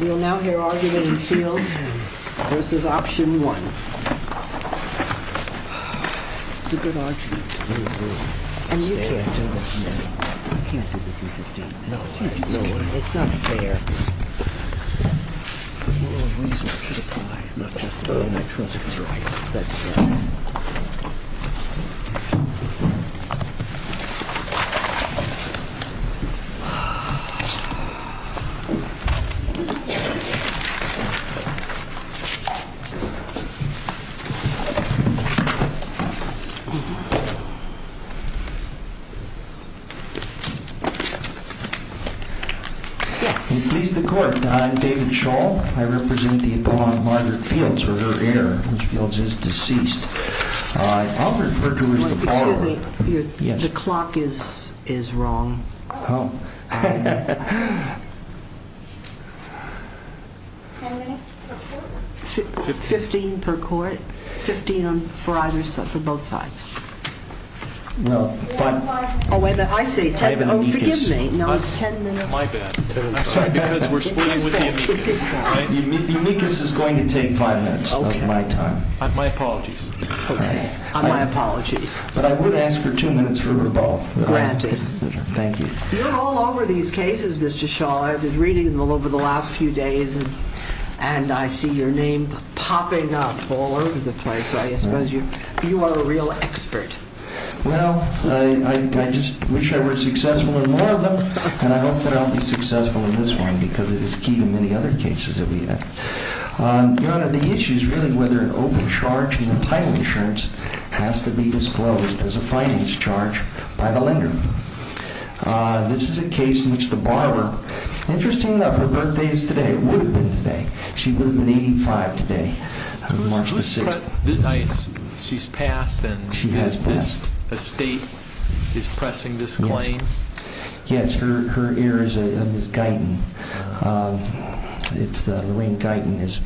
We will now hear argument in the fields versus Option One. Please strike. Implies the court, I'm David Scholl, I represent the opponent, Margaret Fields, or her heir, which Fields is deceased. I'll refer to her as the father. Excuse me, the clock is wrong. How many minutes per court? Fifteen per court. Fifteen on for either side, for both sides. Oh, wait a minute, I say ten. Oh, forgive me. No, it's ten minutes. My bad. I'm sorry, because we're splitting with the amicus. The amicus is going to take five minutes of my time. My apologies. Okay, my apologies. But I would ask for two minutes for both. Granted. Thank you. You're all over these cases, Mr. Scholl. I've been reading them over the last few days, and I see your name popping up all over the place. I suppose you are a real expert. Well, I just wish I were successful in more of them, and I hope that I'll be successful in this one, because it is key to many other cases that we have. Your Honor, the issue is really whether an open charge in the title insurance has to be disclosed as a finance charge by the lender. This is a case in which the borrower, interesting enough, her birthday is today. It would have been today. She would have been 85 today, March the 6th. She's passed, and this estate is pressing this claim? Yes, her heir is Ms. Guyton. Lorraine Guyton is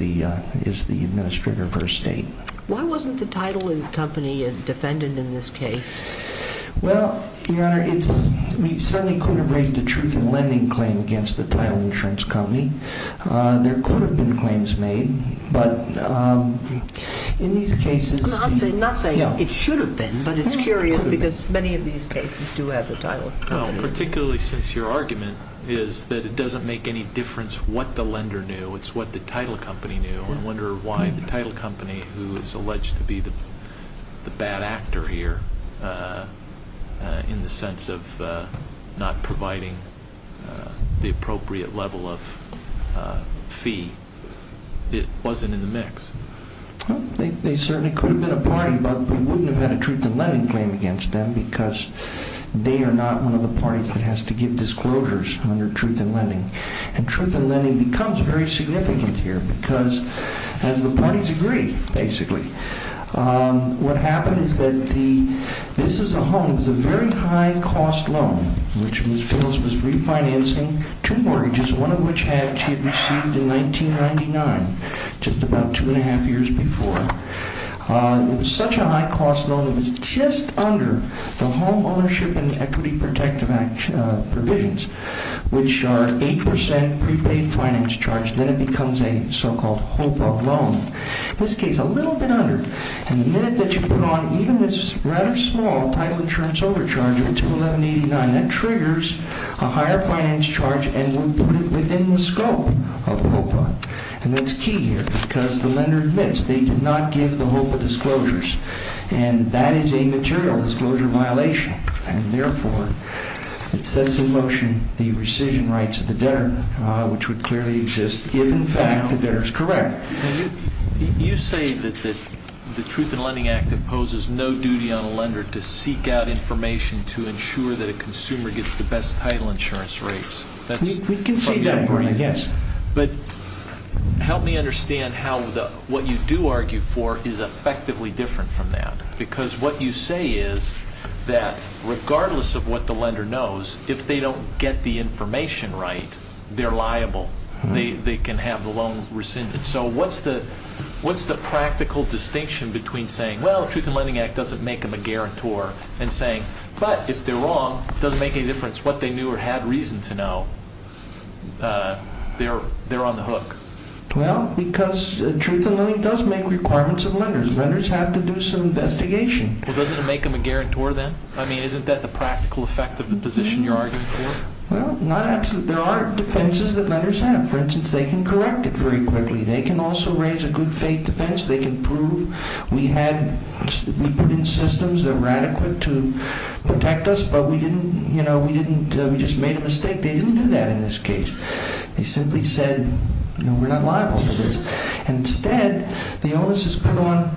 the administrator of her estate. Why wasn't the title company a defendant in this case? Well, Your Honor, we certainly could have raised a truth-in-lending claim against the title insurance company. There could have been claims made, but in these cases... I'm not saying it should have been, but it's curious, because many of these cases do have the title. Well, particularly since your argument is that it doesn't make any difference what the lender knew. It's what the title company knew. I wonder why the title company, who is alleged to be the bad actor here, in the sense of not providing the appropriate level of fee, it wasn't in the mix. They certainly could have been a party, but we wouldn't have had a truth-in-lending claim against them, because they are not one of the parties that has to give disclosures under truth-in-lending. And truth-in-lending becomes very significant here, because the parties agree, basically. What happened is that this is a home. It was a very high-cost loan, which Ms. Fields was refinancing, two mortgages, one of which she had received in 1999, just about two and a half years before. It was such a high-cost loan, it was just under the Home Ownership and Equity Protective Act provisions, which are 8% prepaid finance charge. Then it becomes a so-called HOPA loan. In this case, a little bit under. And the minute that you put on, even with rather small title insurance overcharge of $211,089, that triggers a higher finance charge, and we put it within the scope of HOPA. And that's key here, because the lender admits they did not give the HOPA disclosures, and that is a material disclosure violation. And therefore, it sets in motion the rescission rights of the debtor, which would clearly exist if, in fact, the debtor is correct. You say that the Truth-in-Lending Act imposes no duty on a lender to seek out information to ensure that a consumer gets the best title insurance rates. We can say that, Bernie, yes. But help me understand how what you do argue for is effectively different from that. Because what you say is that regardless of what the lender knows, if they don't get the information right, they're liable. They can have the loan rescinded. So what's the practical distinction between saying, well, the Truth-in-Lending Act doesn't make them a guarantor, and saying, but if they're wrong, it doesn't make any difference what they knew or had reason to know, they're on the hook. Well, because Truth-in-Lending does make requirements of lenders. Lenders have to do some investigation. Well, doesn't it make them a guarantor then? I mean, isn't that the practical effect of the position you're arguing for? Well, not absolutely. There are defenses that lenders have. For instance, they can correct it very quickly. They can also raise a good faith defense. They can prove we put in systems that were adequate to protect us, but we just made a mistake. They didn't do that in this case. They simply said, we're not liable for this. And instead, the onus is put on,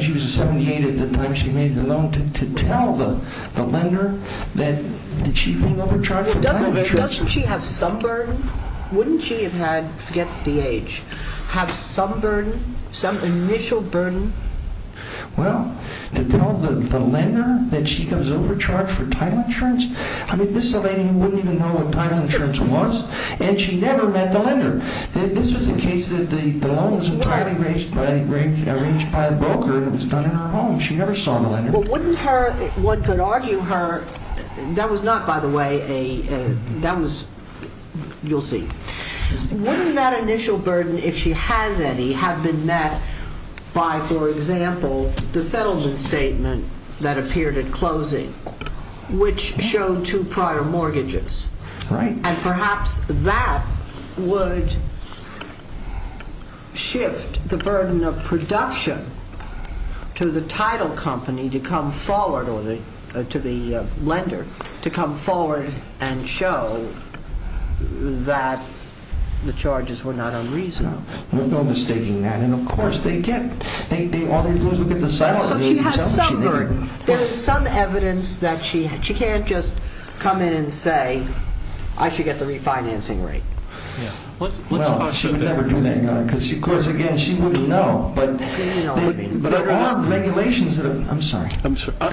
she was 78 at the time she made the loan, to tell the lender that she's being overcharged. Well, doesn't she have some burden? Wouldn't she have had, forget the age, have some burden, some initial burden? Well, to tell the lender that she comes overcharged for title insurance? I mean, this is a lady who wouldn't even know what title insurance was, and she never met the lender. This was a case that the loan was entirely arranged by a broker, and it was done in her home. She never saw the lender. Well, wouldn't her, one could argue her, that was not, by the way, that was, you'll see. Wouldn't that initial burden, if she has any, have been met by, for example, the settlement statement that appeared at closing, which showed two prior mortgages? And perhaps that would shift the burden of production to the title company to come forward, or to the lender, to come forward and show that the charges were not unreasonable. No, no mistaking that. And of course, they get, all they do is look at the settlement. So she has some burden. There is some evidence that she, she can't just come in and say, I should get the refinancing rate. Well, she would never do that, because, of course, again, she wouldn't know, but there are regulations that are, I'm sorry,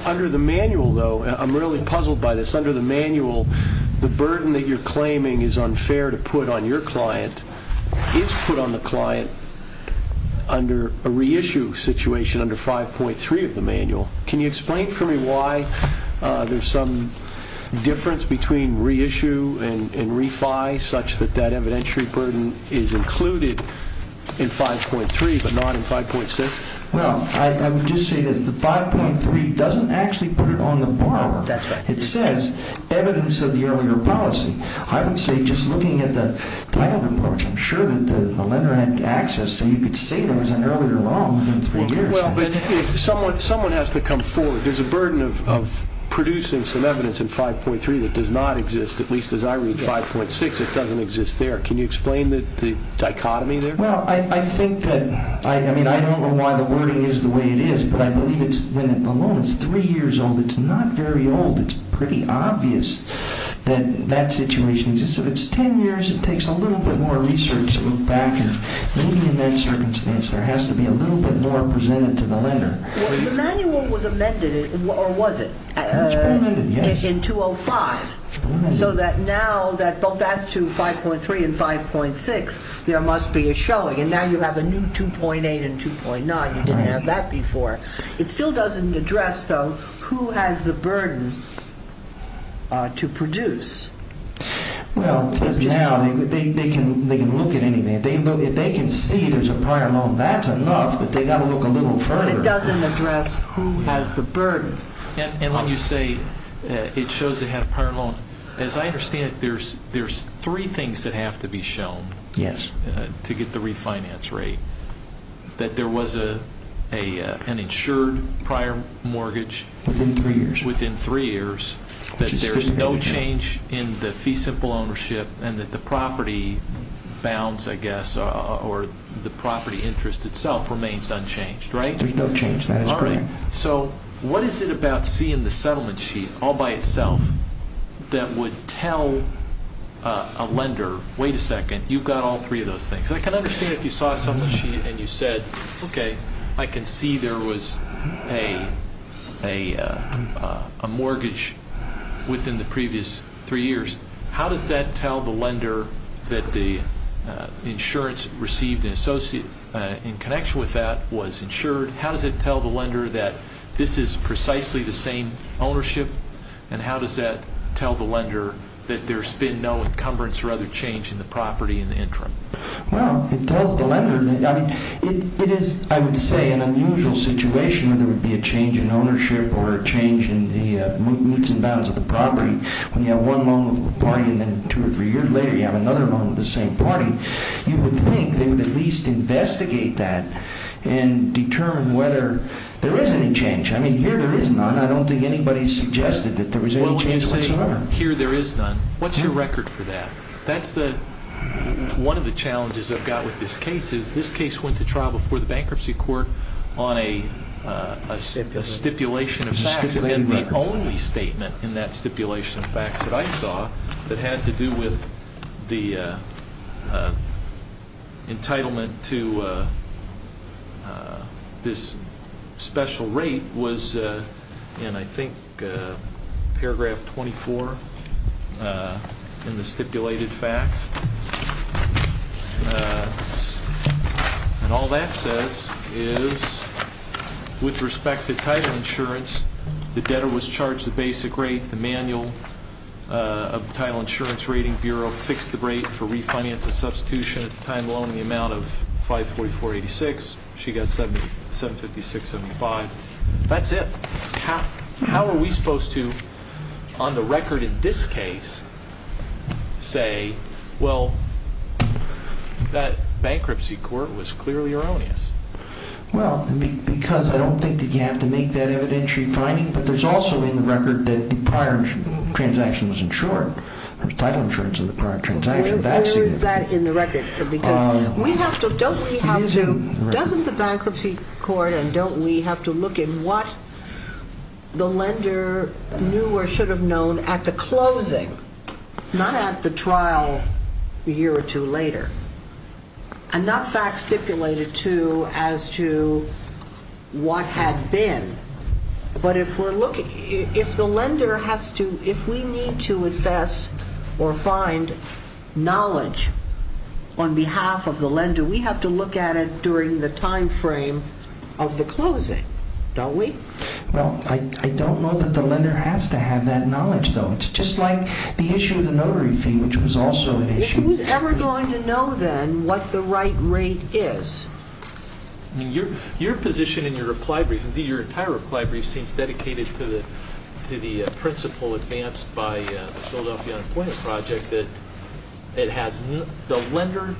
under the manual, though, I'm really puzzled by this, under the manual, the burden that you're claiming is unfair to put on your client is put on the client under a reissue situation under 5.3 of the manual. Can you explain for me why there's some difference between reissue and refi, such that that evidentiary burden is included in 5.3, but not in 5.6? Well, I would just say that the 5.3 doesn't actually put it on the borrower. That's right. It says evidence of the earlier policy. I would say just looking at the title report, I'm sure that the lender had access to, you could say there was an earlier loan within three years. Well, but if someone has to come forward, there's a burden of producing some evidence in 5.3 that does not exist, at least as I read 5.6, it doesn't exist there. Can you explain the dichotomy there? Well, I think that, I mean, I don't know why the wording is the way it is, but I believe when a loan is three years old, it's not very old. It's pretty obvious that that situation exists. If it's 10 years, it takes a little bit more research to look back, and maybe in that circumstance, there has to be a little bit more presented to the lender. The manual was amended, or was it? It was pre-amended, yes. In 205, so that now that both that's to 5.3 and 5.6, there must be a showing, and now you have a new 2.8 and 2.9. You didn't have that before. It still doesn't address, though, who has the burden to produce. Well, they can look at anything. If they can see there's a prior loan, that's enough that they've got to look a little further. But it doesn't address who has the burden. And when you say it shows they had a prior loan, as I understand it, there's three things that have to be shown. Yes. To get the refinance rate. That there was an insured prior mortgage. Within three years. Within three years. That there's no change in the fee simple ownership, and that the property bounds, I guess, or the property interest itself remains unchanged, right? There's no change. So what is it about seeing the settlement sheet all by itself that would tell a lender, wait a second, you've got all three of those things. I can understand if you saw a settlement sheet and you said, okay, I can see there was a mortgage within the previous three years. How does that tell the lender that the insurance received in connection with that was insured? How does it tell the lender And how does that tell the lender that there's been no encumbrance or other change in the property in the interim? Well, it tells the lender that, I mean, it is, I would say, an unusual situation where there would be a change in ownership or a change in the moots and bounds of the property. When you have one loan with one party and then two or three years later, you have another loan with the same party. You would think they would at least investigate that and determine whether there is any change. I mean, here there is none. I don't think anybody suggested that there was any change whatsoever. Here there is none. What's your record for that? That's one of the challenges I've got with this case is this case went to trial before the bankruptcy court on a stipulation of facts. It's been the only statement in that stipulation of facts that I saw that had to do with the entitlement to this special rate was in, I think, paragraph 24 in the stipulated facts. And all that says is, with respect to title insurance, the debtor was charged the basic rate, the manual of the title insurance rating bureau fixed the rate for refinance and substitution at the time of the loan, the amount of 544.86. She got 756.75. That's it. How are we supposed to, on the record in this case, say, well, that bankruptcy court was clearly erroneous? Well, because I don't think that you have to make that evidentiary finding, but there's also in the record that the prior transaction was insured. There's title insurance in the prior transaction. Where is that in the record? Because we have to, don't we have to, doesn't the bankruptcy court, and don't we have to look in what the lender knew or should have known at the closing, not at the trial a year or two later, and not facts stipulated to as to what had been. But if we're looking, if the lender has to, if we need to assess or find knowledge on behalf of the lender, we have to look at it during the time frame of the closing, don't we? Well, I don't know that the lender has to have that knowledge, though. It's just like the issue of the notary fee, which was also an issue. Who's ever going to know then what the right rate is? I mean, your position in your reply brief, your entire reply brief seems dedicated to the principle advanced by Philadelphia Unemployment Project that it has, the lender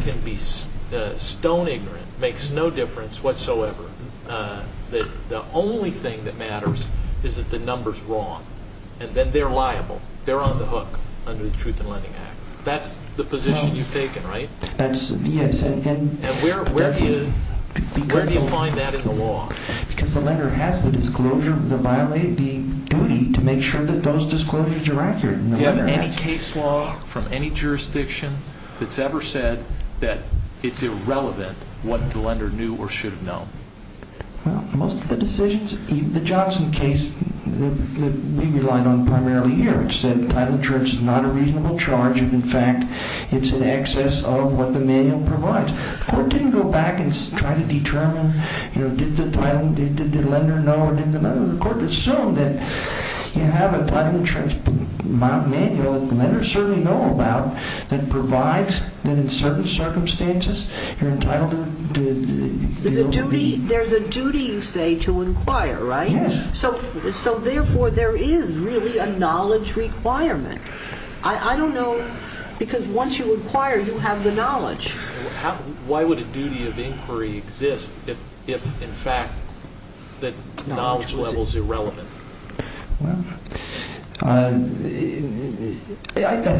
can be stone ignorant, makes no difference whatsoever, that the only thing that matters is that the number's wrong, and then they're liable, they're on the hook under the Truth in Lending Act. That's the position you've taken, right? That's, yes. And where do you find that in the law? Because the lender has the disclosure, the violating duty to make sure that those disclosures are accurate. Do you have any case law from any jurisdiction that's ever said that it's irrelevant what the lender knew or should have known? Well, most of the decisions, the Johnson case that we relied on primarily here, it said title insurance is not a reasonable charge, and in fact, it's in excess of what the manual provides. The court didn't go back and try to determine, you know, did the lender know or didn't the lender know? The court assumed that you have to apply the manual that the lender certainly know about that provides that in certain circumstances, you're entitled to... There's a duty, you say, to inquire, right? Yes. So therefore, there is really a knowledge requirement. I don't know, because once you inquire, you have the knowledge. Why would a duty of inquiry exist if, in fact, the knowledge level's irrelevant? Well, I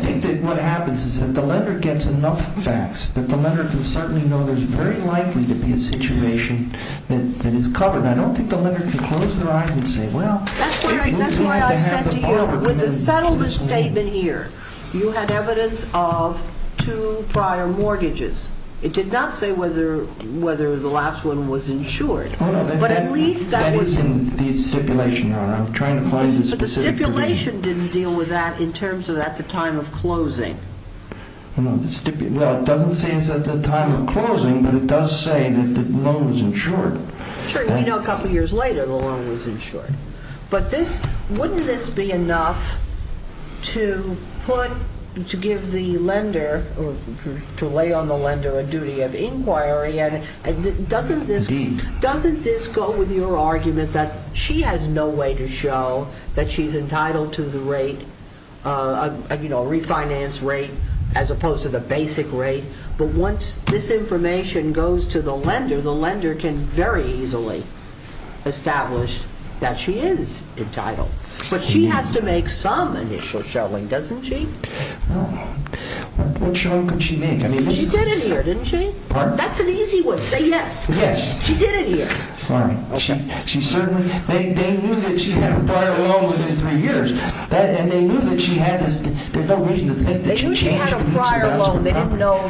think that what happens is that the lender gets enough facts that the lender can certainly know there's very likely to be a situation that is covered. I don't think the lender can close their eyes and say, well... That's why I said to you, with the settlement statement here, you had evidence of two prior mortgages. It did not say whether the last one was insured, but at least that was... The stipulation, Your Honor. I'm trying to find some specific... But the stipulation didn't deal with that in terms of at the time of closing. No, the stipulation... Well, it doesn't say it's at the time of closing, but it does say that the loan was insured. Sure, you know a couple of years later the loan was insured. But this... Wouldn't this be enough to put... to give the lender or to lay on the lender a duty of inquiry? And doesn't this go with your argument that she has no way to show that she's entitled to the rate, you know, refinance rate as opposed to the basic rate. But once this information goes to the lender, the lender can very easily establish that she is entitled. But she has to make some initial showing, doesn't she? What showing could she make? I mean... She did it here, didn't she? That's an easy one. Say yes. Yes. She did it here. All right. She certainly... They knew that she had a prior loan within three years. And they knew that she had this... There's no reason to think that she changed... They knew she had a prior loan.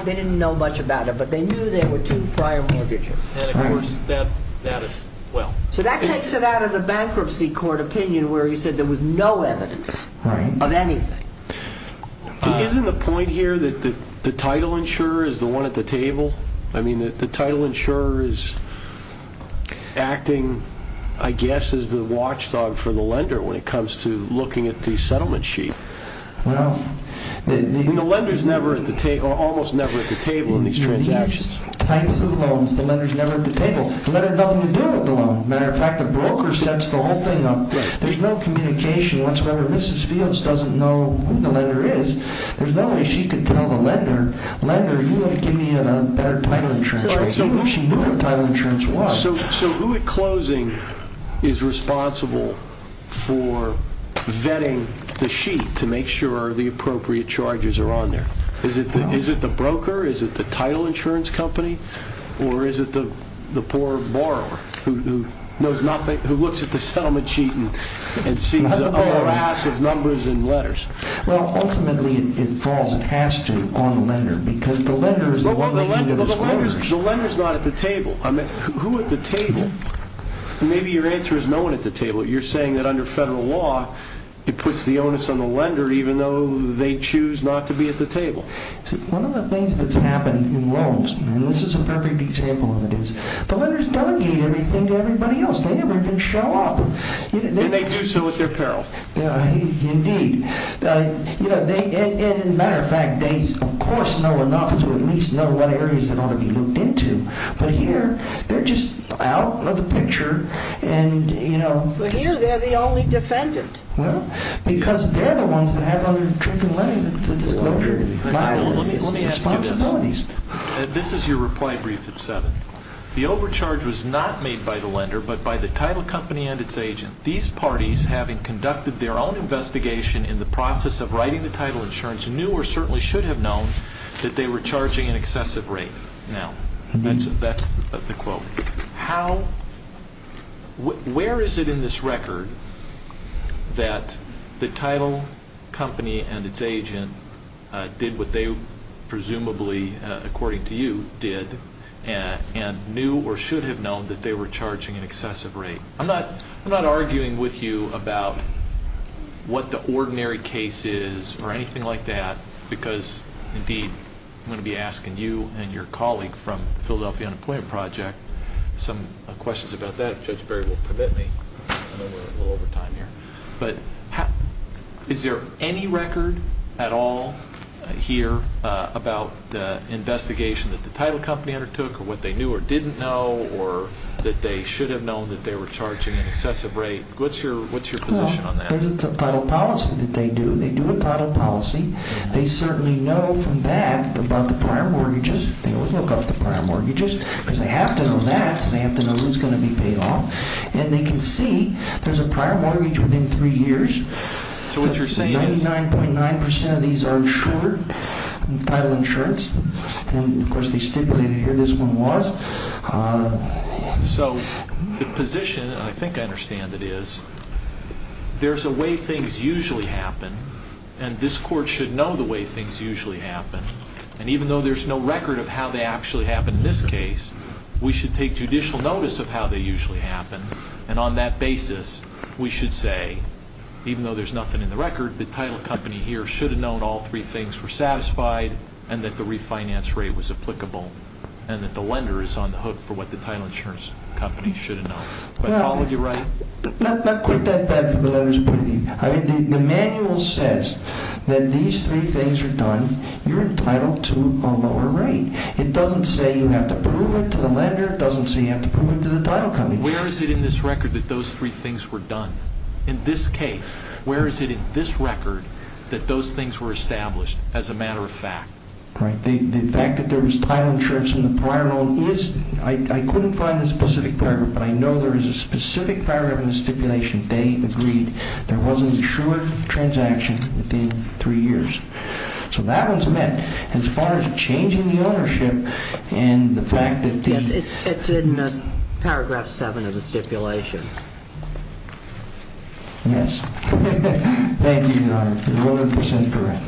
They didn't know much about it, but they knew there were two prior mortgages. And of course, that as well. So that takes it out of the bankruptcy court opinion where he said there was no evidence of anything. Isn't the point here that the title insurer is the one at the table? I mean, the title insurer is acting, I guess, as the watchdog for the lender when it comes to looking at the settlement sheet. Well... I mean, the lender's never at the table, almost never at the table in these transactions. These types of loans, the lender's never at the table. The lender had nothing to do with the loan. Matter of fact, the broker sets the whole thing up. There's no communication whatsoever. Mrs. Fields doesn't know who the lender is. There's no way she could tell the lender, lender, you ought to give me a better title insurance. So she knew what title insurance was. So who at closing is responsible for vetting the sheet to make sure the appropriate charges are on there? Is it the broker? Is it the title insurance company? Or is it the poor borrower who knows nothing, who looks at the settlement sheet and sees a whole ass of numbers and letters? Well, ultimately, it falls, it has to, on the lender because the lender is the one that's in those quarters. The lender's not at the table. Who at the table? Maybe your answer is no one at the table. You're saying that under federal law, it puts the onus on the lender even though they choose not to be at the table. See, one of the things that's happened in loans, and this is a perfect example of it, is the lenders delegate everything to everybody else. They never even show up. And they do so at their peril. Indeed. And matter of fact, they, of course, know enough to at least know what areas that ought to be looked into. But here, they're just out of the picture. And, you know... But here, they're the only defendant. Well, because they're the ones that have other tricks in lending, the disclosure. Let me ask you this. Responsibilities. This is your reply brief at 7. The overcharge was not made by the lender, but by the title company and its agent. These parties, having conducted their own investigation in the process of writing the title insurance, knew or certainly should have known that they were charging an excessive rate. Now, that's the quote. How... Where is it in this record that the title company and its agent did what they presumably, according to you, did and knew or should have known that they were charging an excessive rate? I'm not arguing with you about what the ordinary case is or anything like that, because, indeed, I'm going to be asking you and your colleague from the Philadelphia Unemployment Project some questions about that. Judge Berry will permit me. I know we're a little over time here. But is there any record at all here about the investigation that the title company undertook or what they knew or didn't know or that they should have known that they were charging an excessive rate? What's your position on that? There's a title policy that they do. They do a title policy. They certainly know from that about the prior mortgages. They always look up the prior mortgages because they have to know that so they have to know who's going to be paid off. And they can see there's a prior mortgage within three years. So what you're saying is... 99.9% of these are insured, title insurance. And, of course, they stipulated here this one was. So the position, I think I understand it is, there's a way things usually happen and this court should know the way things usually happen. And even though there's no record of how they actually happen in this case, we should take judicial notice of how they usually happen. And on that basis, we should say, even though there's nothing in the record, the title company here should have known all three things were satisfied and that the refinance rate was applicable and that the lender is on the hook for what the title insurance company should have known. Am I following you right? Not quite that bad for the level of scrutiny. I mean, the manual says that these three things are done, you're entitled to a lower rate. It doesn't say you have to prove it to the lender. It doesn't say you have to prove it to the title company. Where is it in this record that those three things were done? In this case, where is it in this record that those things were established as a matter of fact? Right, the fact that there was title insurance in the prior loan is... I couldn't find the specific paragraph, but I know there is a specific paragraph in the stipulation. They agreed there wasn't a sure transaction within three years. So that was met as far as changing the ownership and the fact that... Yes, it's in paragraph seven of the stipulation. Yes. Thank you, Your Honor. You're 100% correct.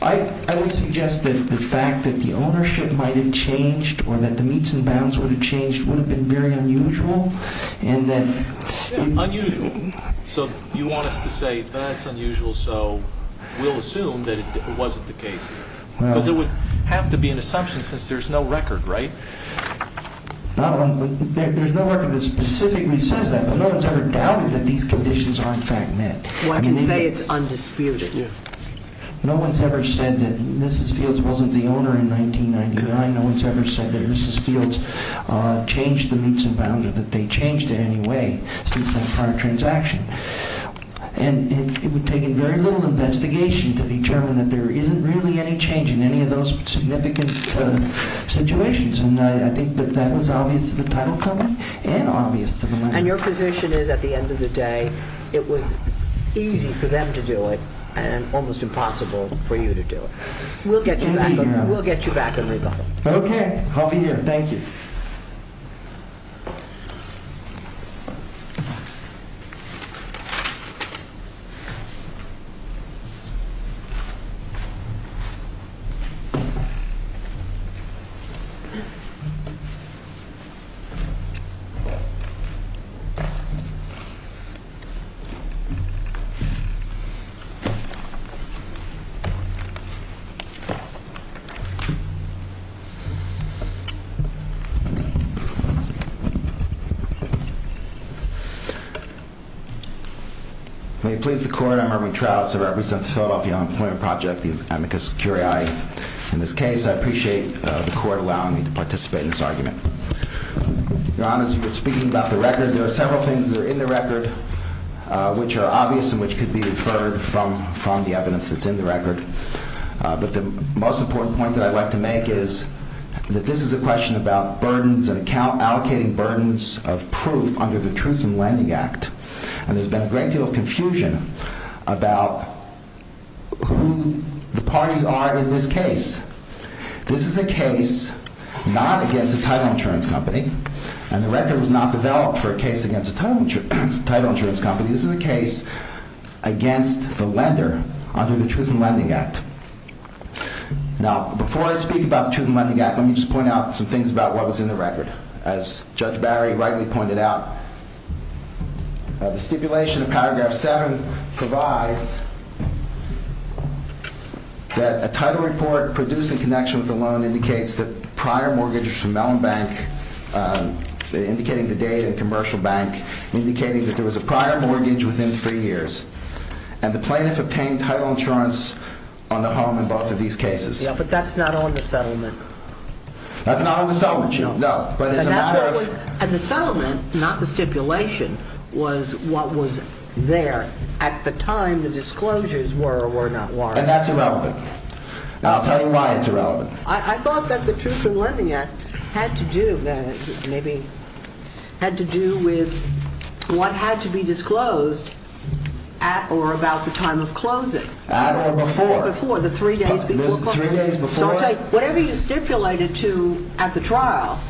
I would suggest that the fact that the ownership might have changed or that the meets and bounds would have changed would have been very unusual and that... Unusual. So you want us to say that's unusual, so we'll assume that it wasn't the case. Because it would have to be an assumption since there's no record, right? There's no record that specifically says that, but no one's ever doubted that these conditions are in fact met. Well, I can say it's undisputed. No one's ever said that Mrs. Fields wasn't the owner in 1999. No one's ever said that Mrs. Fields changed the meets and bounds or that they changed it in any way since that prior transaction. And it would take very little investigation to determine that there isn't really any change in any of those significant situations. And I think that that was obvious to the title company and obvious to the... And your position is at the end of the day, it was easy for them to do it and almost impossible for you to do it. We'll get you back. We'll get you back in rebuttal. Okay, I'll be here. And thank you. May it please the court, I'm Erwin Trouts. I represent the Philadelphia Unemployment Project, the amicus curiae. In this case, I appreciate the court allowing me to participate in this argument. Your honors, you've been speaking about the record. There are several things that are in the record which are obvious and which could be deferred from the evidence that's in the record. But the most important point that I'd like to make is that this is a question about burdens and account, allocating burdens of proof under the Truth in Lending Act. And there's been a great deal of confusion about who the parties are in this case. This is a case not against a title insurance company. And the record was not developed for a case against a title insurance company. This is a case against the lender under the Truth in Lending Act. Now, before I speak about the Truth in Lending Act, let me just point out some things about what was in the record. As Judge Barry rightly pointed out, the stipulation in paragraph seven provides that a title report produced in connection with the loan indicates that prior mortgages from Mellon Bank, indicating the date and commercial bank, indicating that there was a prior mortgage within three years. And the plaintiff obtained title insurance on the home in both of these cases. Yeah, but that's not on the settlement. That's not on the settlement sheet, no. And the settlement, not the stipulation, was what was there at the time the disclosures were or were not warranted. And that's irrelevant. And I'll tell you why it's irrelevant. I thought that the Truth in Lending Act had to do, maybe, had to do with what had to be disclosed at or about the time of closing. At or before. Before, the three days before closing. Three days before. So I'll tell you, whatever you stipulated to at the trial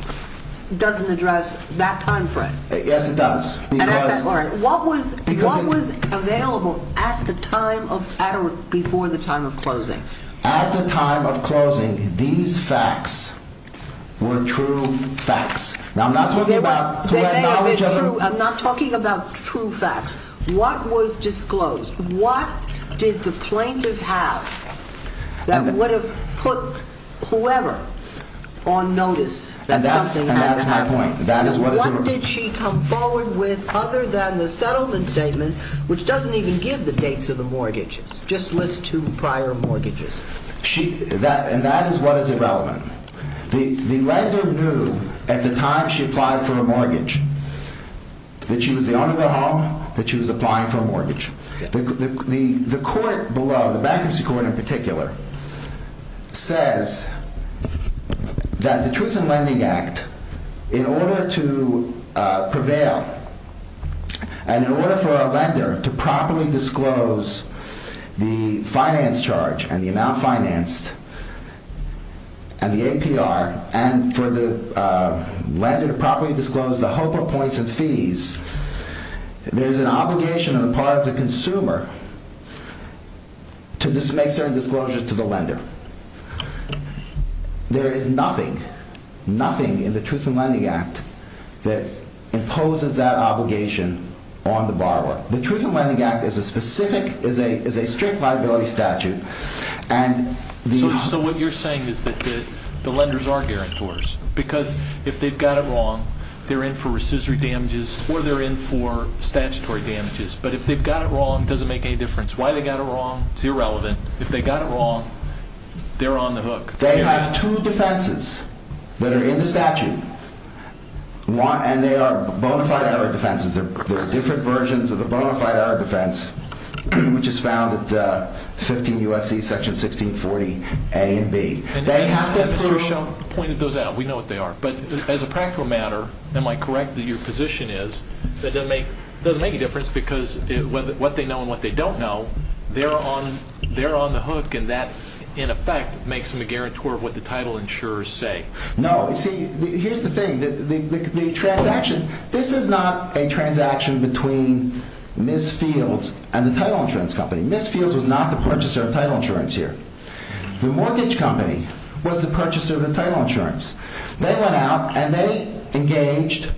doesn't address that time frame. Yes, it does. What was available at the time of, at or before the time of closing? At the time of closing, these facts were true facts. Now, I'm not talking about... I'm not talking about true facts. What was disclosed? What did the plaintiff have that would have put whoever on notice that something had to happen? And that's my point. And what did she come forward with other than the settlement statement, which doesn't even give the dates of the mortgages, just lists two prior mortgages? And that is what is irrelevant. The lender knew at the time she applied for a mortgage that she was the owner of the home, that she was applying for a mortgage. The court below, the bankruptcy court in particular, says that the Truth in Lending Act, in order to prevail and in order for a lender to properly disclose the finance charge and the amount financed and the APR, the HOPA points and fees, there's an obligation on the part of the consumer to just make certain disclosures to the lender. There is nothing, nothing in the Truth in Lending Act that imposes that obligation on the borrower. The Truth in Lending Act is a specific, is a strict liability statute. And the... So what you're saying is that the lenders are guarantors because if they've got it wrong, they're in for rescissory damages or they're in for statutory damages. But if they've got it wrong, it doesn't make any difference why they got it wrong. It's irrelevant. If they got it wrong, they're on the hook. They have two defenses that are in the statute and they are bonafide error defenses. There are different versions of the bonafide error defense which is found at 15 U.S.C. section 1640 A and B. They have to prove... And Mr. Shum pointed those out. We know what they are. But as a practical matter, am I correct that your position is that it doesn't make a difference because what they know and what they don't know, they're on the hook and that in effect makes them a guarantor of what the title insurers say. No, see, here's the thing. This is not a transaction between Ms. Fields and the title insurance company. Ms. Fields was not the purchaser of title insurance here. The mortgage company was the purchaser of the title insurance. They went out and they engaged,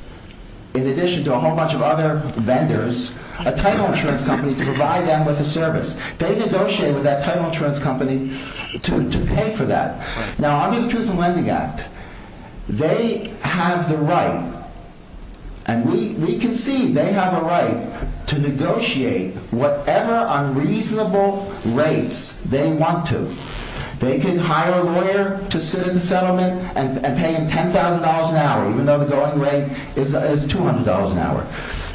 in addition to a whole bunch of other vendors, a title insurance company to provide them with a service. They negotiated with that title insurance company to pay for that. Now under the Truth in Lending Act, they have the right and we can see they have a right to negotiate whatever unreasonable rates they want to. They can hire a lawyer to sit in the settlement and pay him $10,000 an hour, even though the going rate is $200 an hour.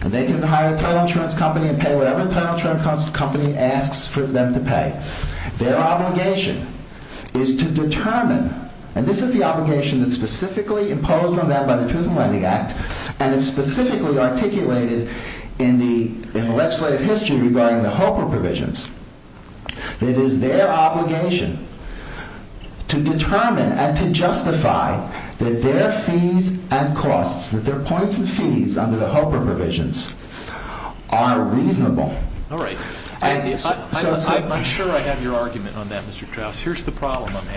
And they can hire a title insurance company and pay whatever title insurance company asks for them to pay. Their obligation is to determine, and this is the obligation that's specifically imposed on them by the Truth in Lending Act and it's specifically articulated in the legislative history regarding the HOPA provisions. It is their obligation to determine and to justify that their fees and costs, that their points and fees under the HOPA provisions are reasonable. All right. I'm sure I have your argument on that, Mr. Trous. Here's the problem I'm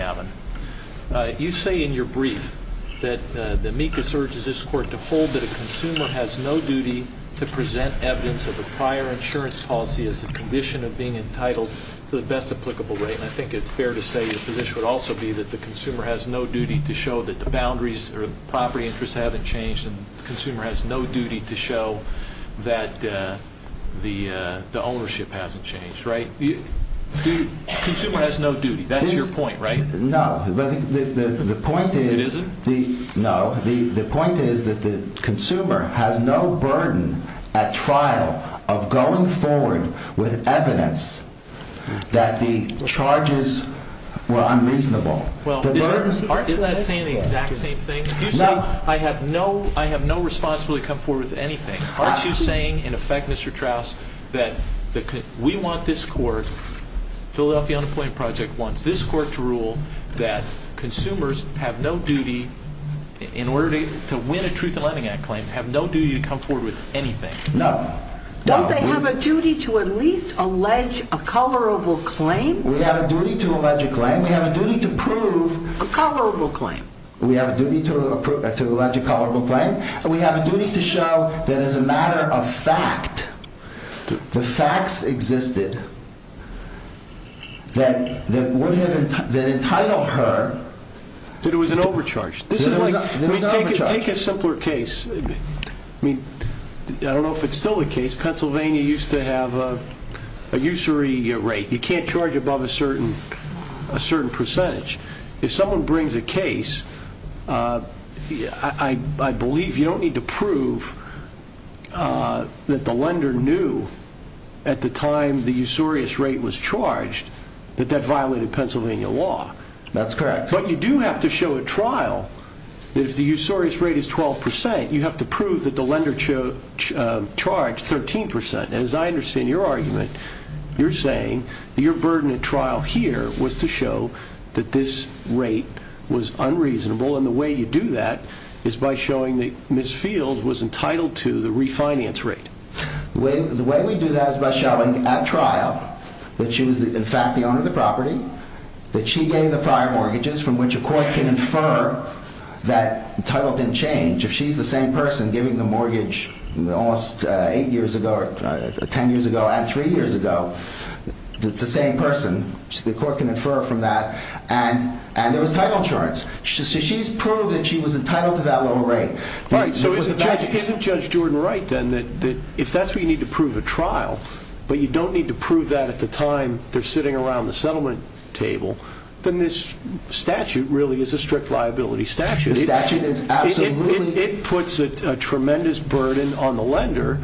having. You say in your brief that the amicus urges this court to hold that a consumer has no duty to present evidence of a prior insurance policy as a condition of being entitled to the best applicable rate. I think it's fair to say your position would also be that the consumer has no duty to show that the boundaries or property interests haven't changed and the consumer has no duty to show that the ownership hasn't changed, right? Consumer has no duty. That's your point, right? No. The point is that the consumer has no burden at trial of going forward with evidence that the charges were unreasonable. Well, aren't you saying the exact same thing? I have no responsibility to come forward with anything. Aren't you saying, in effect, Mr. Trous, that we want this court, Philadelphia Unemployment Project, wants this court to rule that consumers have no duty in order to win a Truth in Lending Act claim, have no duty to come forward with anything? No. Don't they have a duty to at least allege a colorable claim? We have a duty to allege a claim. We have a duty to prove... A colorable claim. We have a duty to allege a colorable claim. We have a duty to show that as a matter of fact, the facts existed that would have entitled her... That it was an overcharge. This is like, take a simpler case. I mean, I don't know if it's still the case. Pennsylvania used to have a usury rate. You can't charge above a certain percentage. If someone brings a case, I believe you don't need to prove that the lender knew at the time the usurious rate was charged that that violated Pennsylvania law. That's correct. But you do have to show at trial that if the usurious rate is 12%, you have to prove that the lender charged 13%. As I understand your argument, you're saying your burden at trial here was to show that this rate was unreasonable. And the way you do that is by showing that Ms. Fields was entitled to the refinance rate. The way we do that is by showing at trial that she was in fact the owner of the property, that she gave the prior mortgages from which a court can infer that title didn't change. If she's the same person giving the mortgage almost eight years ago, 10 years ago and three years ago, it's the same person. The court can infer from that. And there was title insurance. She's proved that she was entitled to that lower rate. Isn't Judge Jordan right then that if that's what you need to prove at trial, but you don't need to prove that at the time they're sitting around the settlement table, then this statute really is a strict liability statute. The statute is absolutely... It puts a tremendous burden on the lender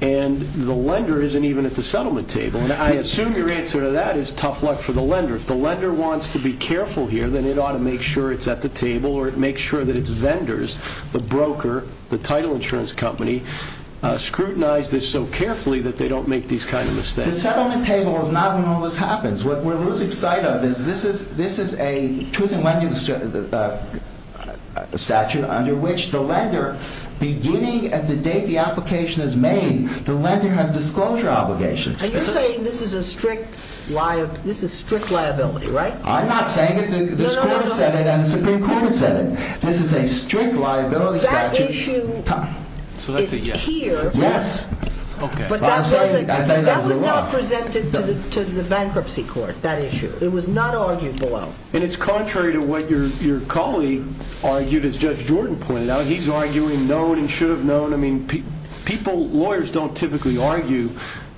and the lender isn't even at the settlement table. I assume your answer to that is tough luck for the lender. If the lender wants to be careful here, then it ought to make sure it's at the table or it makes sure that its vendors, the broker, the title insurance company, scrutinize this so carefully that they don't make these kinds of mistakes. The settlement table is not when all this happens. What we're losing sight of is this is a truth and leniency statute under which the lender, beginning at the date the application is made, the lender has disclosure obligations. And you're saying this is a strict liability, right? I'm not saying it. The Supreme Court has said it. This is a strict liability statute. That issue is here, but that was not presented to the bankruptcy court, that issue. It was not argued below. And it's contrary to what your colleague argued as Judge Jordan pointed out. He's arguing known and should have known. I mean, lawyers don't typically argue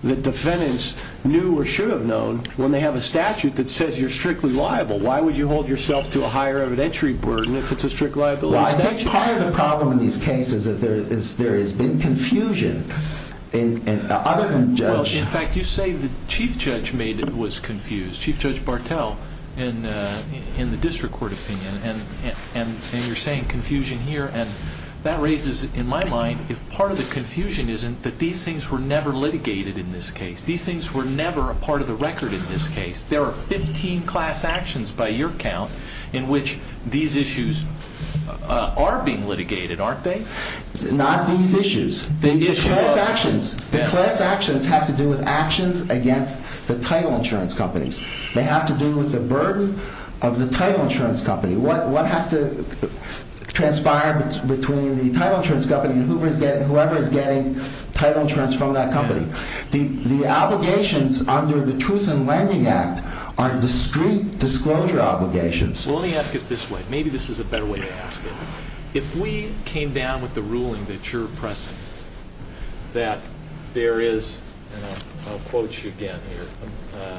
that defendants knew or should have known when they have a statute that says you're strictly liable. Why would you hold yourself to a higher evidentiary burden if it's a strict liability statute? I think part of the problem in these cases is that there has been confusion other than judge. In fact, you say the chief judge was confused, Chief Judge Bartel in the district court opinion. And you're saying confusion here. And that raises in my mind, if part of the confusion isn't that these things were never litigated in this case. These things were never a part of the record in this case. There are 15 class actions by your count in which these issues are being litigated, aren't they? Not these issues, the class actions. The class actions have to do with actions against the title insurance companies. They have to do with the burden of the title insurance company. What has to transpire between the title insurance company and whoever is getting title insurance from that company? The obligations under the Truth in Lending Act are discrete disclosure obligations. Well, let me ask it this way. Maybe this is a better way to ask it. If we came down with the ruling that you're pressing, that there is, and I'll quote you again here,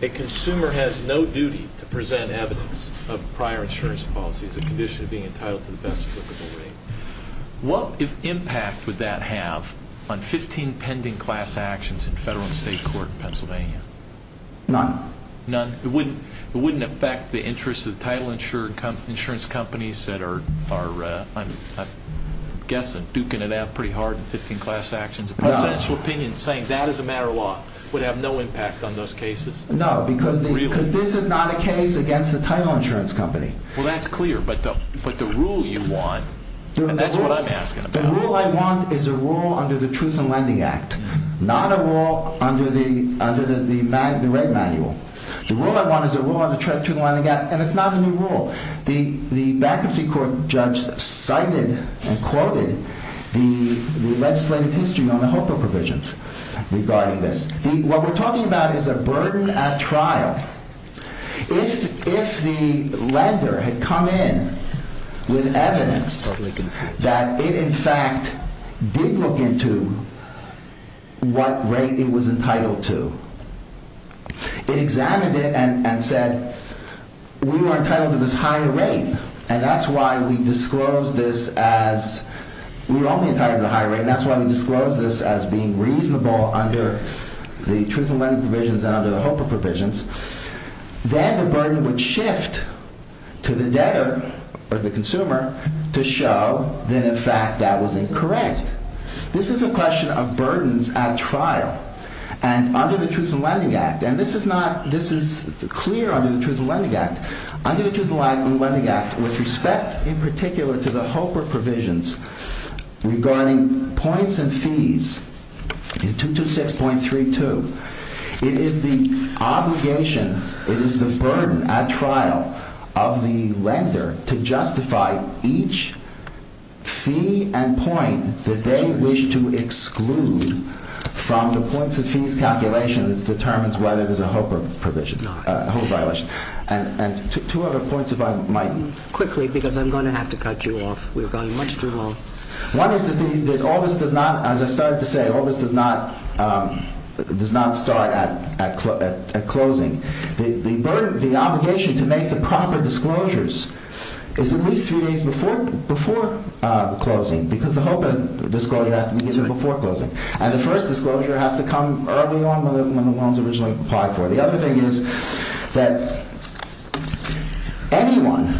a consumer has no duty to present evidence of prior insurance policy as a condition of being entitled to the best applicable rate, what impact would that have on 15 pending class actions in federal and state court in Pennsylvania? None. None? It wouldn't affect the interests of the title insurance companies that are, I'm guessing, duking it out pretty hard in 15 class actions? A presidential opinion saying that is a matter of law would have no impact on those cases? No, because this is not against the title insurance company. Well, that's clear, but the rule you want, that's what I'm asking about. The rule I want is a rule under the Truth in Lending Act, not a rule under the rate manual. The rule I want is a rule under the Truth in Lending Act, and it's not a new rule. The bankruptcy court judge cited and quoted the legislative history on the HOPA provisions regarding this. What we're talking about is a burden at trial. If the lender had come in with evidence that it, in fact, did look into what rate it was entitled to, it examined it and said, we were entitled to this higher rate, and that's why we disclosed this as, we were only entitled to the higher rate, and that's why we disclosed this as being reasonable under the Truth in Lending provisions and under the HOPA provisions. Then the burden would shift to the debtor or the consumer to show that, in fact, that was incorrect. This is a question of burdens at trial, and under the Truth in Lending Act, and this is not, this is clear under the Truth in Lending Act. Under the Truth in Lending Act, with respect, in particular, to the HOPA provisions regarding points and fees, in 226.32, it is the obligation, it is the burden at trial of the lender to justify each fee and point that they wish to exclude from the points and fees calculation that determines whether there's a HOPA violation. And two other points if I might. Quickly, because I'm going to have to cut you off. We're going much too long. One is that all this does not, as I started to say, all this does not, does not start at closing. The obligation to make the proper disclosures is at least three days before closing, because the HOPA disclosure has to be before closing. And the first disclosure has to come early on when the loan's originally applied for. The other thing is that anyone,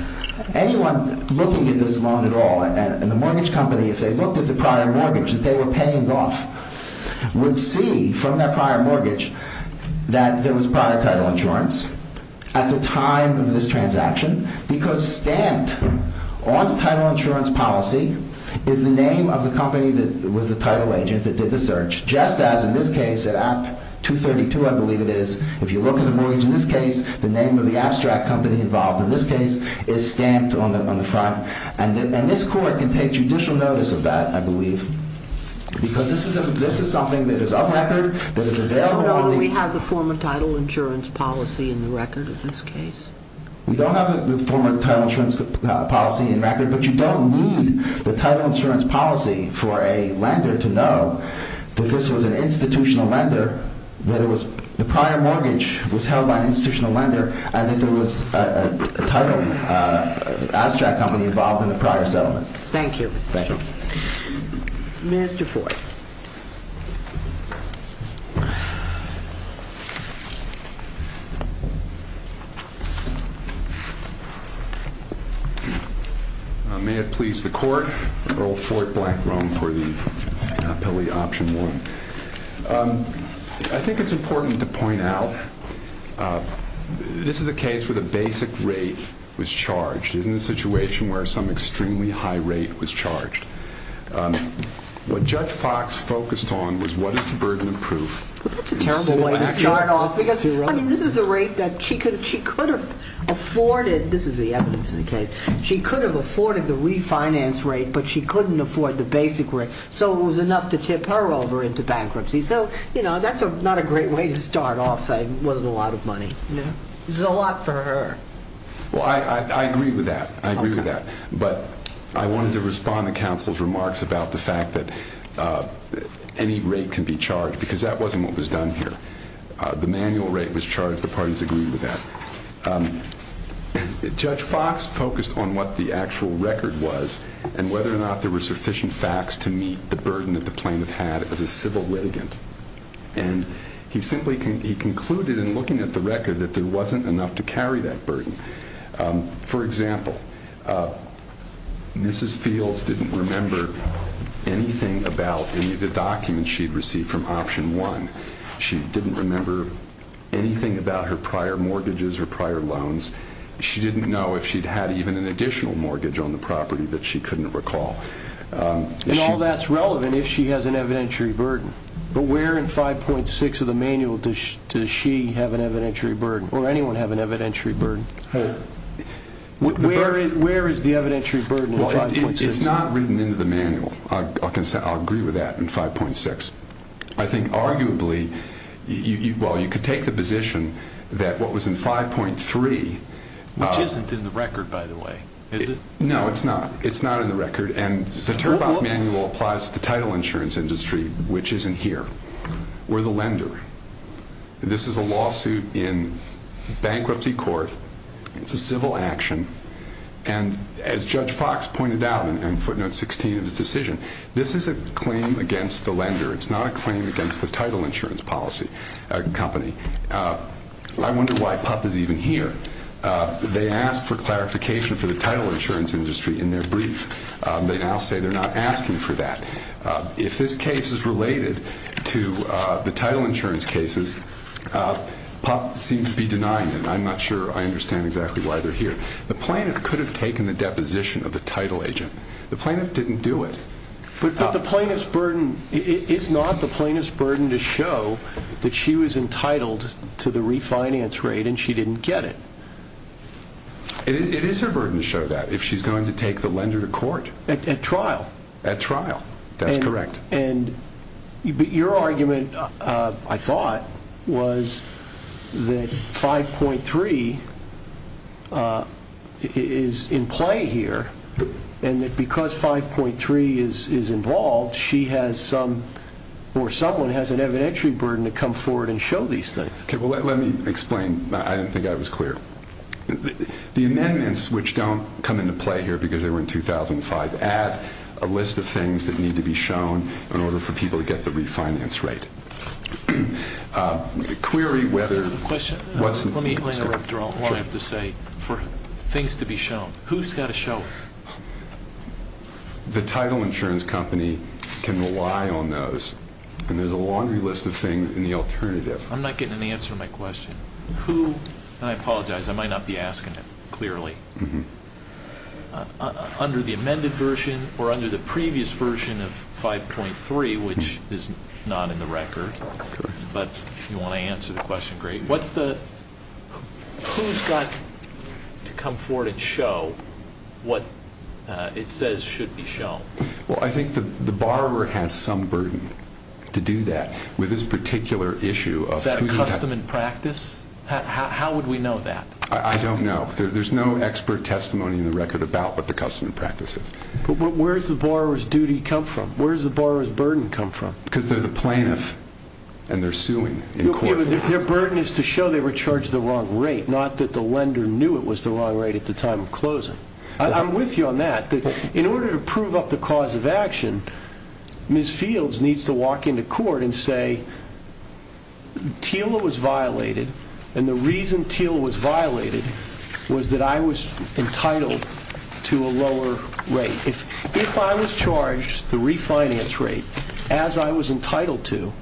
anyone looking at this loan at all, and the mortgage company, if they looked at the prior mortgage that they were paying off, would see from that prior mortgage that there was prior title insurance at the time of this transaction, because stamped on the title insurance policy is the name of the company that was the title agent that did the search, just as in this case at Act 232, I believe it is. If you look at the mortgage in this case, the name of the abstract company involved in this case is stamped on the front. And this court can take judicial notice of that, I believe, because this is a, this is something that is off record, that is available. No, we have the former title insurance policy in the record of this case. We don't have the former title insurance policy in record, but you don't need the title insurance policy for a lender to know that this was an institutional lender, that it was, the prior mortgage was held by an institutional lender, and that there was a title abstract company involved in the prior settlement. Thank you. Mr. Fort. May it please the court, Earl Fort Blackrum for the appellee option one. I think it's important to point out this is a case where the basic rate was charged. It is in a situation where some extremely high rate was charged. What Judge Fox focused on was what is the burden of proof? Well, that's a terrible way to start off because I mean, this is a rate that she could, she could have afforded. This is the evidence in the case. She could have afforded the refinance rate, but she couldn't afford the basic rate. So it was enough to tip her over into bankruptcy. So, you know, that's not a great way to start off saying it wasn't a lot of money. No, this is a lot for her. Well, I agree with that. I agree with that. But I wanted to respond to counsel's remarks about the fact that any rate can be charged because that wasn't what was done here. The manual rate was charged. The parties agreed with that. Judge Fox focused on what the actual record was and whether or not there were sufficient facts to meet the burden that the plaintiff had as a civil litigant. And he simply concluded in looking at the record that there wasn't enough to carry that burden. For example, Mrs. Fields didn't remember anything about any of the documents she'd received from option one. She didn't remember anything about her prior mortgages or prior loans. She didn't know if she'd had even an additional mortgage on the property that she couldn't recall. And all that's relevant if she has an evidentiary burden. But where in 5.6 of the manual does she have an evidentiary burden or anyone have an evidentiary burden? Where is the evidentiary burden? It's not written into the manual. I'll agree with that in 5.6. I think arguably, well, you could take the position that what was in 5.3... Which isn't in the record, by the way, is it? No, it's not. It's not in the record. And the Turnpike Manual applies to the title insurance industry, which isn't here. We're the lender. This is a lawsuit in bankruptcy court. It's a civil action. And as Judge Fox pointed out in footnote 16 of the decision, this is a claim against the lender. It's not a claim against the title insurance policy company. I wonder why PUP is even here. They asked for clarification for the title insurance industry in their brief. They now say they're not asking for that. If this case is related to the title insurance cases, PUP seems to be denying it. I'm not sure I understand exactly why they're here. The plaintiff could have taken the deposition of the title agent. The plaintiff didn't do it. But the plaintiff's burden, it's not the plaintiff's burden to show that she was entitled to the refinance rate and she didn't get it. It is her burden to show that if she's going to take the lender to court. At trial. At trial. That's correct. And your argument, I thought, was that 5.3 is in play here. And that because 5.3 is involved, she has some, or someone has an evidentiary burden to come forward and show these things. Okay, well, let me explain. I didn't think I was clear. The amendments, which don't come into play here because they were in 2005, add a list of things that need to be shown in order for people to get the refinance rate. Query whether... I have a question. Let me interrupt, or I'll have to say. For things to be shown, who's got to show it? The title insurance company can rely on those. And there's a laundry list of things in the alternative. I'm not getting an answer to my question. Who, and I apologize, I might not be asking it clearly. Under the amended version or under the previous version of 5.3, which is not in the record, but you want to answer the question, great. What's the... Who's got to come forward and show what it says should be shown? Well, I think the borrower has some burden to do that with this particular issue of... Is that a custom and practice? How would we know that? I don't know. There's no expert testimony in the record about what the custom and practice is. But where's the borrower's duty come from? Where's the borrower's burden come from? Because they're the plaintiff and they're suing in court. Their burden is to show they were charged the wrong rate, not that the lender knew it was the wrong rate at the time of closing. I'm with you on that. In order to prove up the cause of action, Ms. Fields needs to walk into court and say, TILA was violated and the reason TILA was violated was that I was entitled to a lower rate. If I was charged the refinance rate as I was entitled to...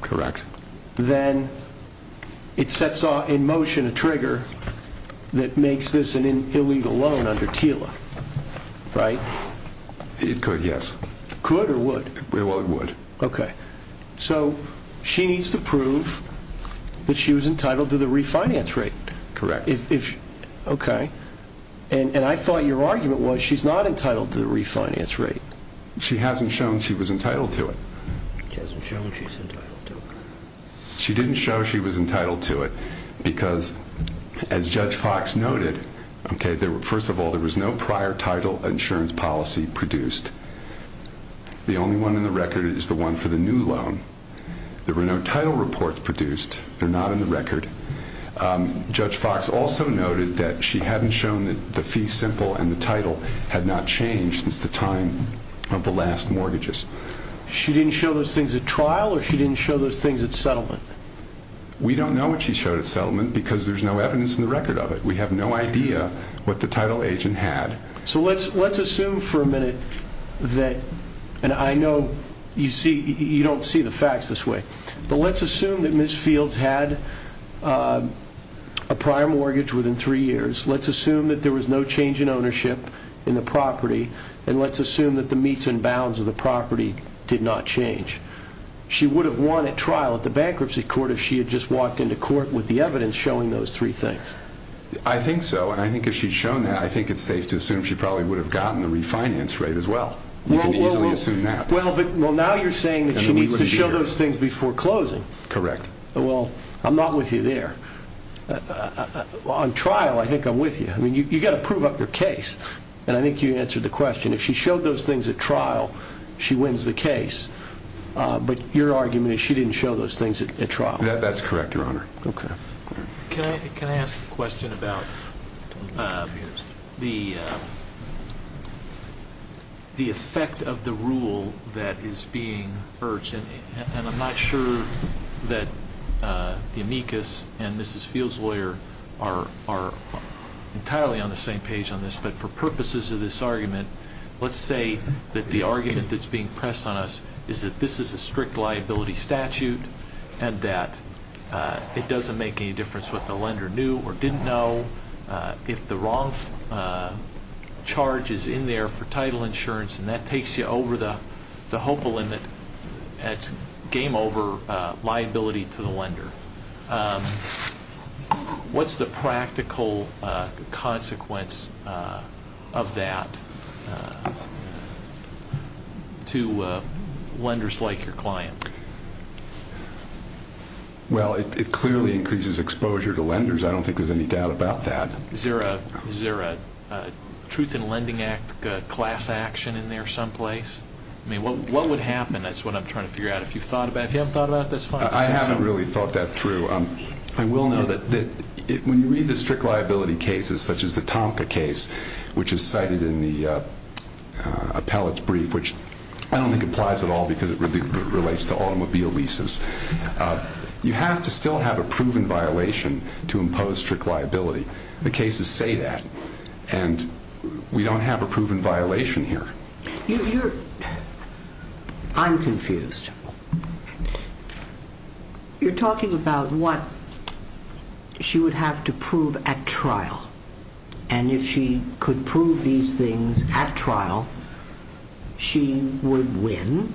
Correct. ...then it sets in motion a trigger that makes this an illegal loan under TILA, right? It could, yes. Could or would? Well, it would. Okay. So she needs to prove that she was entitled to the refinance rate, correct? Okay. And I thought your argument was she's not entitled to the refinance rate. She hasn't shown she was entitled to it. She hasn't shown she's entitled to it. She didn't show she was entitled to it because as Judge Fox noted, okay, first of all, there was no prior title insurance policy produced. The only one in the record is the one for the new loan. There were no title reports produced. They're not in the record. Judge Fox also noted that she hadn't shown that the fee simple and the title had not changed since the time of the last mortgages. She didn't show those things at trial or she didn't show those things at settlement? We don't know what she showed at settlement because there's no evidence in the record of it. We have no idea what the title agent had. So let's assume for a minute that, and I know you see, you don't see the facts this way, but let's assume that Ms. Fields had a prior mortgage within three years. Let's assume that there was no change in ownership in the property and let's assume that the meets and bounds of the property did not change. She would have won at trial at the bankruptcy court if she had just walked with the evidence showing those three things. I think so. And I think if she'd shown that, I think it's safe to assume she probably would have gotten the refinance rate as well. You can easily assume that. Well, but now you're saying that she needs to show those things before closing. Correct. Well, I'm not with you there. On trial, I think I'm with you. I mean, you got to prove up your case. And I think you answered the question. If she showed those things at trial, she wins the case. But your argument is she didn't show those things at trial. That's correct, Your Honor. OK. Can I ask a question about the effect of the rule that is being urged? And I'm not sure that the amicus and Mrs. Field's lawyer are entirely on the same page on this. But for purposes of this argument, let's say that the argument that's being pressed on us is that this is a strict liability statute and that it doesn't make any difference what the lender knew or didn't know. If the wrong charge is in there for title insurance and that takes you over the HOPA limit, that's game over liability to the lender. What's the practical consequence of that to lenders like your client? Well, it clearly increases exposure to lenders. I don't think there's any doubt about that. Is there a Truth in Lending Act class action in there someplace? I mean, what would happen? That's what I'm trying to figure out. If you've thought about it. If you haven't thought about it, that's fine. I haven't really thought that through. I will know that when you read the strict liability cases, such as the Tomka case, which is cited in the appellate's brief, which I don't think applies at all because it relates to automobile leases. You have to still have a proven violation to impose strict liability. The cases say that and we don't have a proven violation here. I'm confused. You're talking about what she would have to prove at trial and if she could prove these things at trial, she would win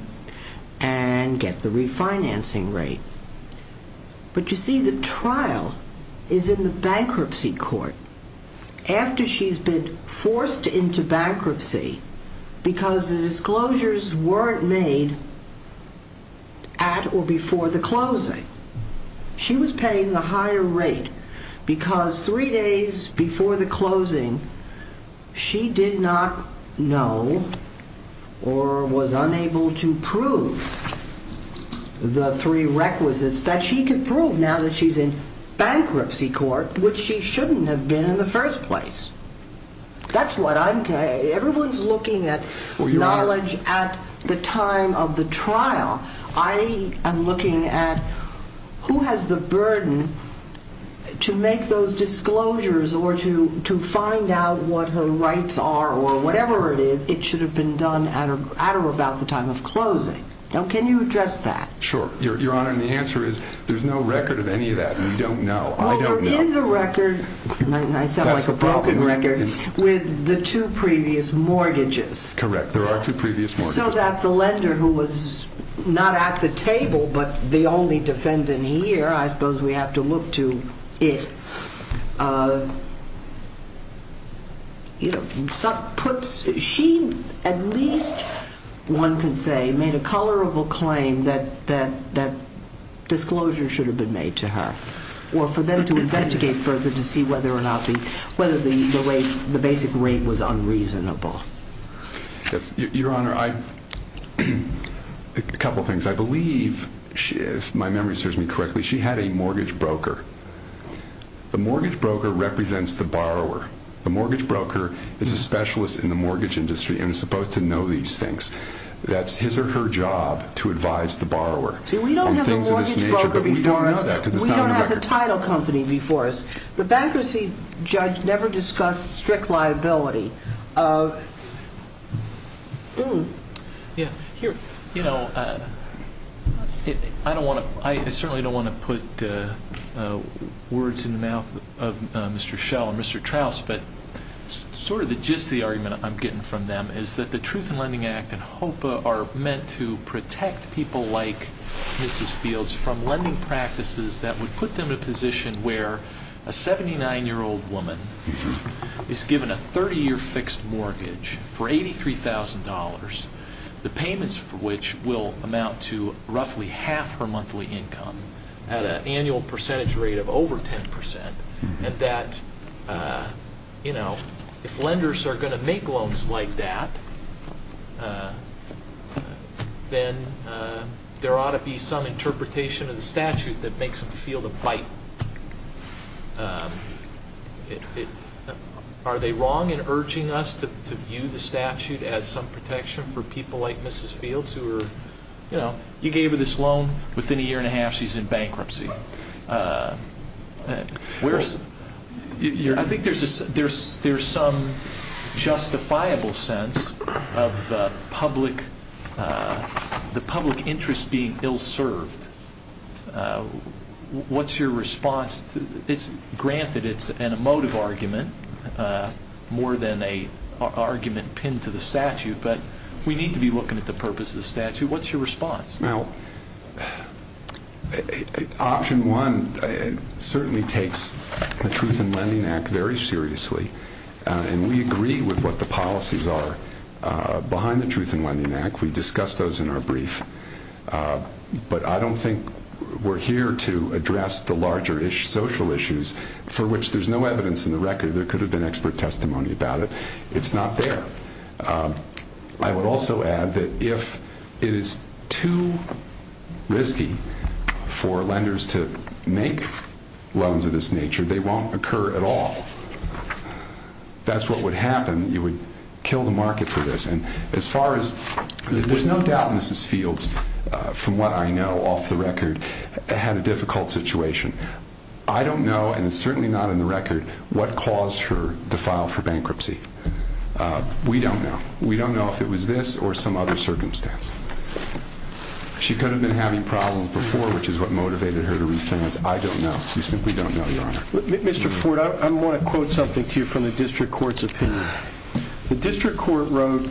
and get the refinancing rate. But you see, the trial is in the bankruptcy court after she's been forced into bankruptcy because the disclosures weren't made at or before the closing. She was paying the higher rate because three days before the closing, she did not know or was unable to prove the three requisites that she could prove now that she's in bankruptcy court, which she shouldn't have been in the first place. Everyone's looking at knowledge at the time of the trial. I am looking at who has the burden to make those disclosures or to find out what her rights are or whatever it is. It should have been done at or about the time of closing. Can you address that? Sure, Your Honor. And the answer is there's no record of any of that. We don't know. Well, there is a record. I sound like a broken record with the two previous mortgages. Correct. There are two previous mortgages. So that's the lender who was not at the table but the only defendant here. I suppose we have to look to it. She, at least one could say, made a color of a claim that that disclosure should have been made to her or for them to investigate further to see whether or not the, whether the way, the basic rate was unreasonable. Your Honor, I, a couple of things. she had a mortgage broker and she had a mortgage broker the mortgage broker represents the borrower. The mortgage broker is a specialist in the mortgage industry and is supposed to know these things. That's his or her job to advise the borrower. See, we don't have a mortgage broker before us. We don't have the title company before us. The bankruptcy judge never discussed strict liability. Yeah, here, you know, I don't want to, I certainly don't want to put the words in the mouth of Mr. Schell and Mr. Trouse, but sort of the gist of the argument I'm getting from them is that the Truth in Lending Act and HOPA are meant to protect people like Mrs. Fields from lending practices that would put them in a position where a 79-year-old woman is given a 30-year fixed mortgage for $83,000, the payments for which will amount to roughly half her monthly income at an annual percentage rate of over 10%, and that, you know, if lenders are going to make loans like that, then there ought to be some interpretation of the statute that makes them feel the bite. Are they wrong in urging us to view the statute as some protection for people like Mrs. Fields who are, you know, you gave her this loan within a year and a half, she's in bankruptcy? I think there's some justifiable sense of the public interest being ill-served. What's your response? Granted, it's an emotive argument more than an argument pinned to the statute, but we need to be looking at the purpose of the statute. What's your response? Option one certainly takes the Truth in Lending Act very seriously, and we agree with what the policies are behind the Truth in Lending Act. We discussed those in our brief, but I don't think we're here to address the larger social issues for which there's no evidence in the record. There could have been expert testimony about it. It's not there. I would also add that if it is too risky for lenders to make loans of this nature, they won't occur at all. That's what would happen. You would kill the market for this. There's no doubt Mrs. Fields, from what I know off the record, had a difficult situation. I don't know, and it's certainly not in the record, what caused her to file for bankruptcy. We don't know. We don't know if it was this or some other circumstance. She could have been having problems which is what motivated her to refinance. I don't know. We simply don't know, Your Honor. Mr. Ford, I want to quote something to you from the district court's opinion. The district court wrote,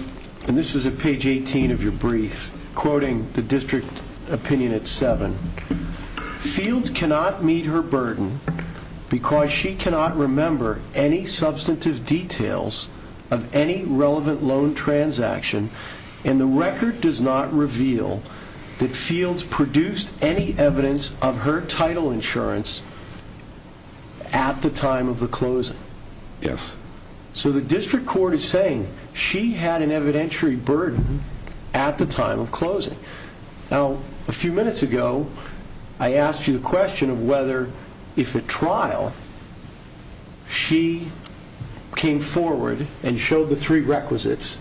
and this is at page 18 of your brief, quoting the district opinion at seven. Fields cannot meet her burden because she cannot remember any substantive details of any relevant loan transaction, and the record does not reveal that Fields produced any evidence of her title insurance at the time of the closing. Yes. So the district court is saying she had an evidentiary burden at the time of closing. Now, a few minutes ago, I asked you the question of whether, if at trial, she came forward and showed the three requisites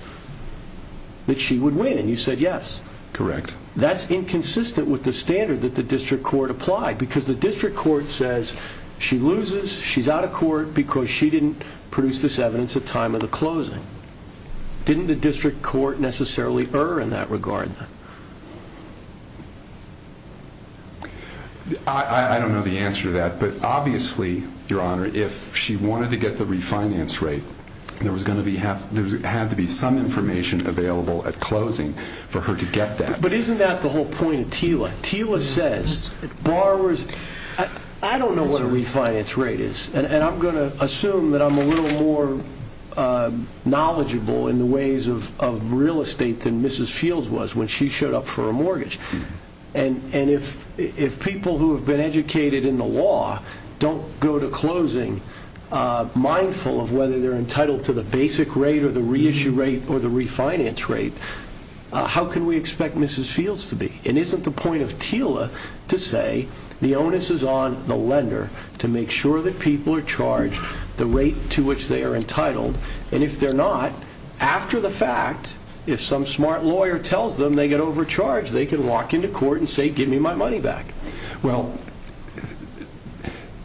that she would win, and you said yes. Correct. That's inconsistent with the standard that the district court applied because the district court says she loses, she's out of court because she didn't produce this evidence at time of the closing. Didn't the district court necessarily err in that regard? I don't know the answer to that, but obviously, Your Honor, if she wanted to get the refinance rate, there had to be some information available at closing for her to get that. But isn't that the whole point of Tila? Tila says borrowers... I don't know what a refinance rate is, and I'm going to assume that I'm a little more knowledgeable in the ways of real estate than Mrs. Fields was when she showed up for a mortgage. And if people who have been educated in the law don't go to closing mindful of whether they're entitled to the basic rate or the reissue rate or the refinance rate, how can we expect Mrs. Fields to be? And isn't the point of Tila to say the onus is on the lender to make sure that people are charged the rate to which they are entitled? And if they're not, after the fact, if some smart lawyer tells them they get overcharged, they can walk into court and say, give me my money back. Well,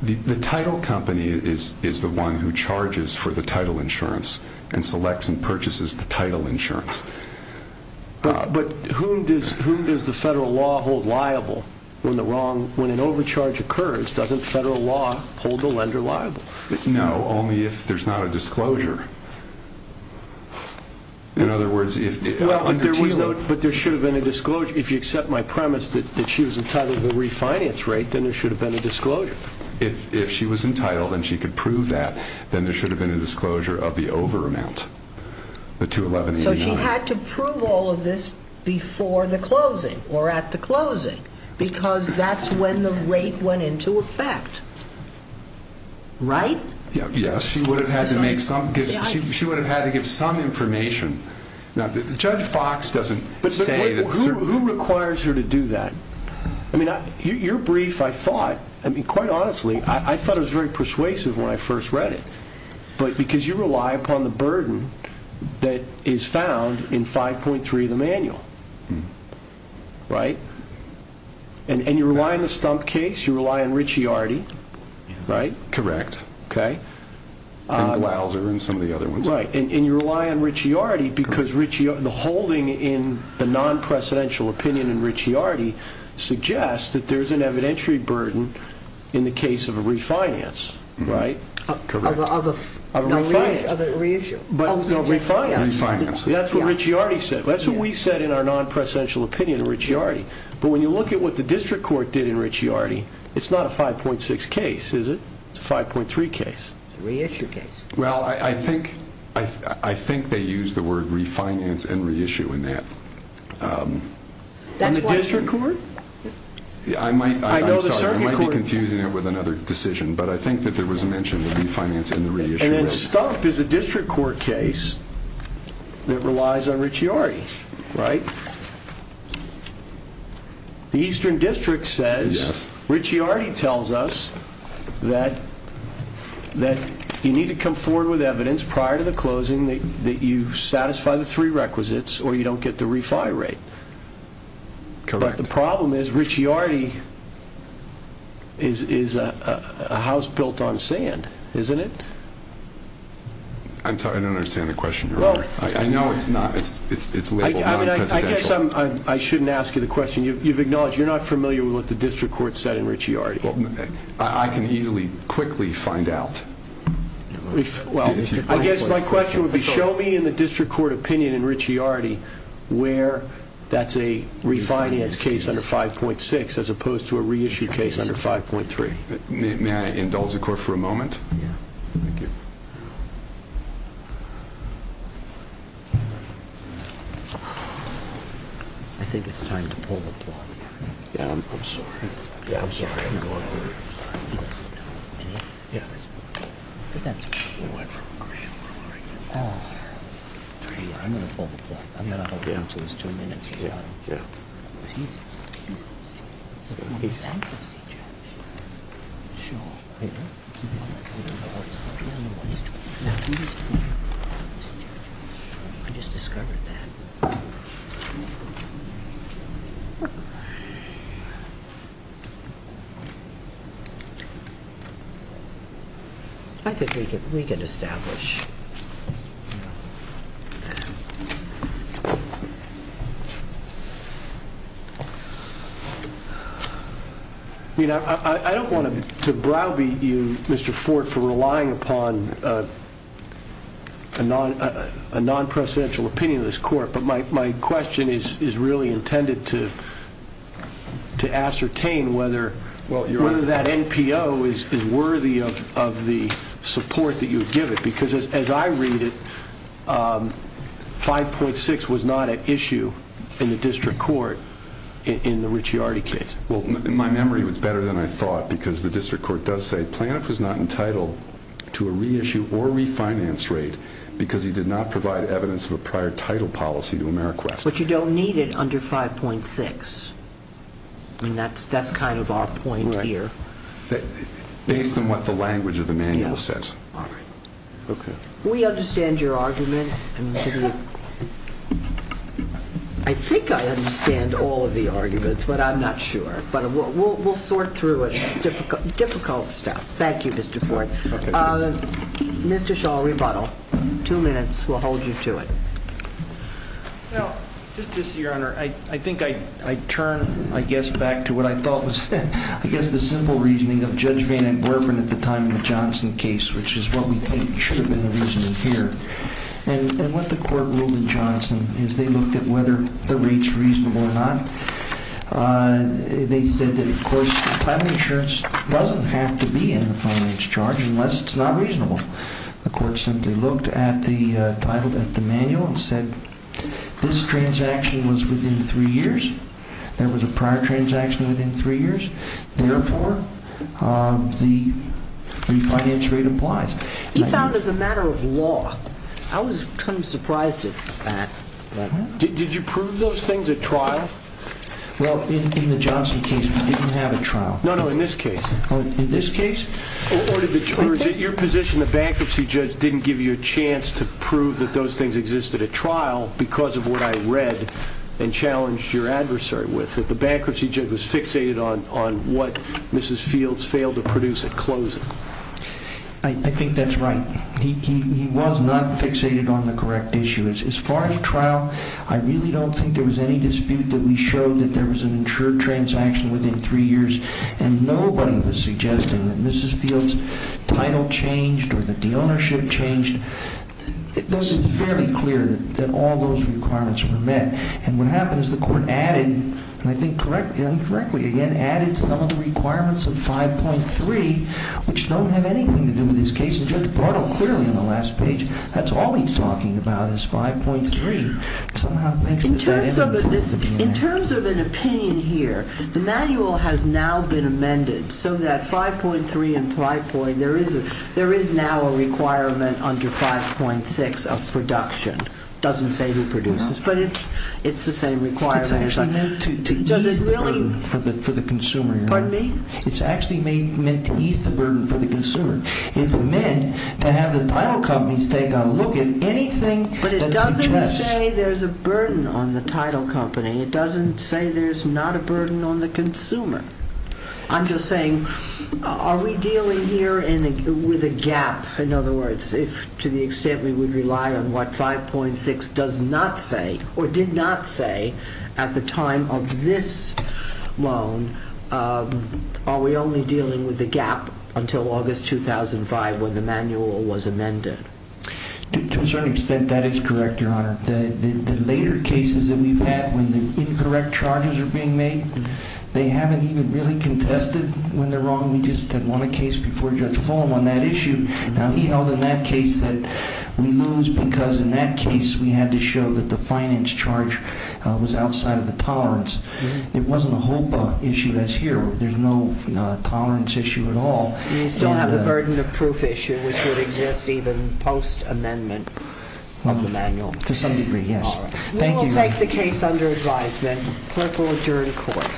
the title company is the one who charges for the title insurance and selects and purchases the title insurance. But whom does the federal law hold liable when the wrong, when an overcharge occurs, doesn't federal law hold the lender liable? No, only if there's not a disclosure. In other words, if there was no, but there should have been a disclosure. If you accept my premise that she was entitled to the refinance rate, then there should have been a disclosure. If she was entitled and she could prove that, then there should have been a disclosure of the over amount, the 211. So she had to prove all of this before the closing or at the closing, because that's when the rate went into effect. Right? Yeah, yeah. She would have had to make some, she would have had to give some information. Now, Judge Fox doesn't say that. Who requires her to do that? I mean, your brief, I thought, I mean, quite honestly, I thought it was very persuasive when I first read it. But because you rely upon the burden that is found in 5.3 of the manual, right? And you rely on the Stump case. You rely on Ricciardi, right? Correct. Okay. And Glauser and some of the other ones. Right. And you rely on Ricciardi because the holding in the non-presidential opinion in Ricciardi suggests that there's an evidentiary burden in the case of a refinance, right? Correct. Of a refinance. Oh, no, refinance. That's what Ricciardi said. That's what we said in our non-presidential opinion in Ricciardi. But when you look at what the district court did in Ricciardi, it's not a 5.6 case, is it? It's a 5.3 case. Reissue case. Well, I think, I think they use the word refinance and reissue in that. And the district court? I'm sorry, I might be confusing it with another decision, but I think that there was a mention of refinance and the reissue. And then stop is a district court case that relies on Ricciardi, right? The Eastern District says, Ricciardi tells us that that you need to come forward with evidence prior to the closing that you satisfy the three requisites or you don't get the refi rate. Correct. The problem is Ricciardi is a house built on sand, isn't it? I'm sorry. I don't understand the question. You're right. I know it's not. It's it's it's. It's like, I mean, I guess I'm I shouldn't ask you the question. You've you've acknowledged you're not familiar with what the district court said in Ricciardi. Well, I can easily quickly find out. Well, I guess my question would be show me in the district court opinion in Ricciardi case under 5.6 as opposed to a reissue case under 5.3. May I indulge the court for a moment? Yeah, thank you. I think it's time to pull the plug. Yeah, I'm sorry. Yeah, I'm sorry. I'm going over here. I'm going to sit down. Any? Yeah. But that's where you went from a green room, right? Oh, I'm going to pull the plug. to his two minutes. Yeah, yeah. I don't know what he's doing. I just discovered that. I think we can we can establish. You know, I don't want to Mr. Ford for relying upon a non-presidential opinion of this court. But my question is really intended to. To ascertain whether well, whether that NPO is worthy of the support that you give it, because as I read it, 5.6 was not an issue in the district court in the Ricciardi case. Well, my memory was better than I thought, because the district court does say Planoff was not entitled to a reissue or refinance rate because he did not provide evidence of a prior title policy to Ameriquest. But you don't need it under 5.6. And that's that's kind of our point here. Based on what the language of the manual says. All right, OK. We understand your argument. I think I understand all of the arguments, but I'm not sure. But we'll sort through it Difficult stuff. Thank you, Mr. Ford. Mr. Shaw, rebuttal. Two minutes. We'll hold you to it. Now, just to see your honor, I think I turn, I guess, back to what I thought was, I guess, the simple reasoning of Judge Vanden Heuvel at the time in the Johnson case, which is what we think should have been the reasoning here and what the court ruled in Johnson is they looked at whether the rates reasonable or not. They said that, of course, title insurance doesn't have to be in the finance charge unless it's not reasonable. The court simply looked at the title of the manual and said this transaction was within three years. There was a prior transaction within three years. Therefore, the refinance rate applies. He found as a matter of law. I was kind of surprised at that. Did you prove those things at trial? Well, in the Johnson case, didn't have a trial. No, no, in this case, in this case, your position, the bankruptcy judge didn't give you a chance to prove that those things existed at trial because of what I read and challenged your adversary with that the bankruptcy judge was fixated on what Mrs. Fields failed to produce at closing. I think that's right. He was not fixated on the correct issue. As far as trial, I really don't think there was any dispute that we showed that there was an insured transaction within three years and nobody was suggesting that Mrs. Fields' title changed or that the ownership changed. This is fairly clear that all those requirements were met. And what happened is the court added, and I think correctly, incorrectly again, added some of the requirements of 5.3, which don't have anything to do with this case. And Judge Bardo, clearly on the last page, that's all he's talking about is 5.3. In terms of an opinion here, the manual has now been amended so that 5.3 and 5.3, there is now a requirement under 5.6 of production. Doesn't say who produces, but it's the same requirement. It's actually meant to ease the burden for the consumer. It's actually meant to ease the burden for the consumer. It's meant to have the title companies take a look at anything. But it doesn't say there's a burden on the title company. It doesn't say there's not a burden on the consumer. I'm just saying, are we dealing here with a gap? In other words, if to the extent we would rely on what 5.6 does not say or did not say at the time of this loan, are we only dealing with the gap until August 2005 when the manual was amended? To a certain extent, that is correct, Your Honor. The later cases that we've had when the incorrect charges are being made, they haven't even really contested when they're wrong. We just won a case before Judge Fulham on that issue. Now, he held in that case that we lose because in that case we had to show that the finance charge was outside of the tolerance. It wasn't a HOPA issue as here. There's no tolerance issue at all. You still have the burden of proof issue which would exist even post amendment. To some degree, yes. We will take the case under advisement. Clerk will adjourn court.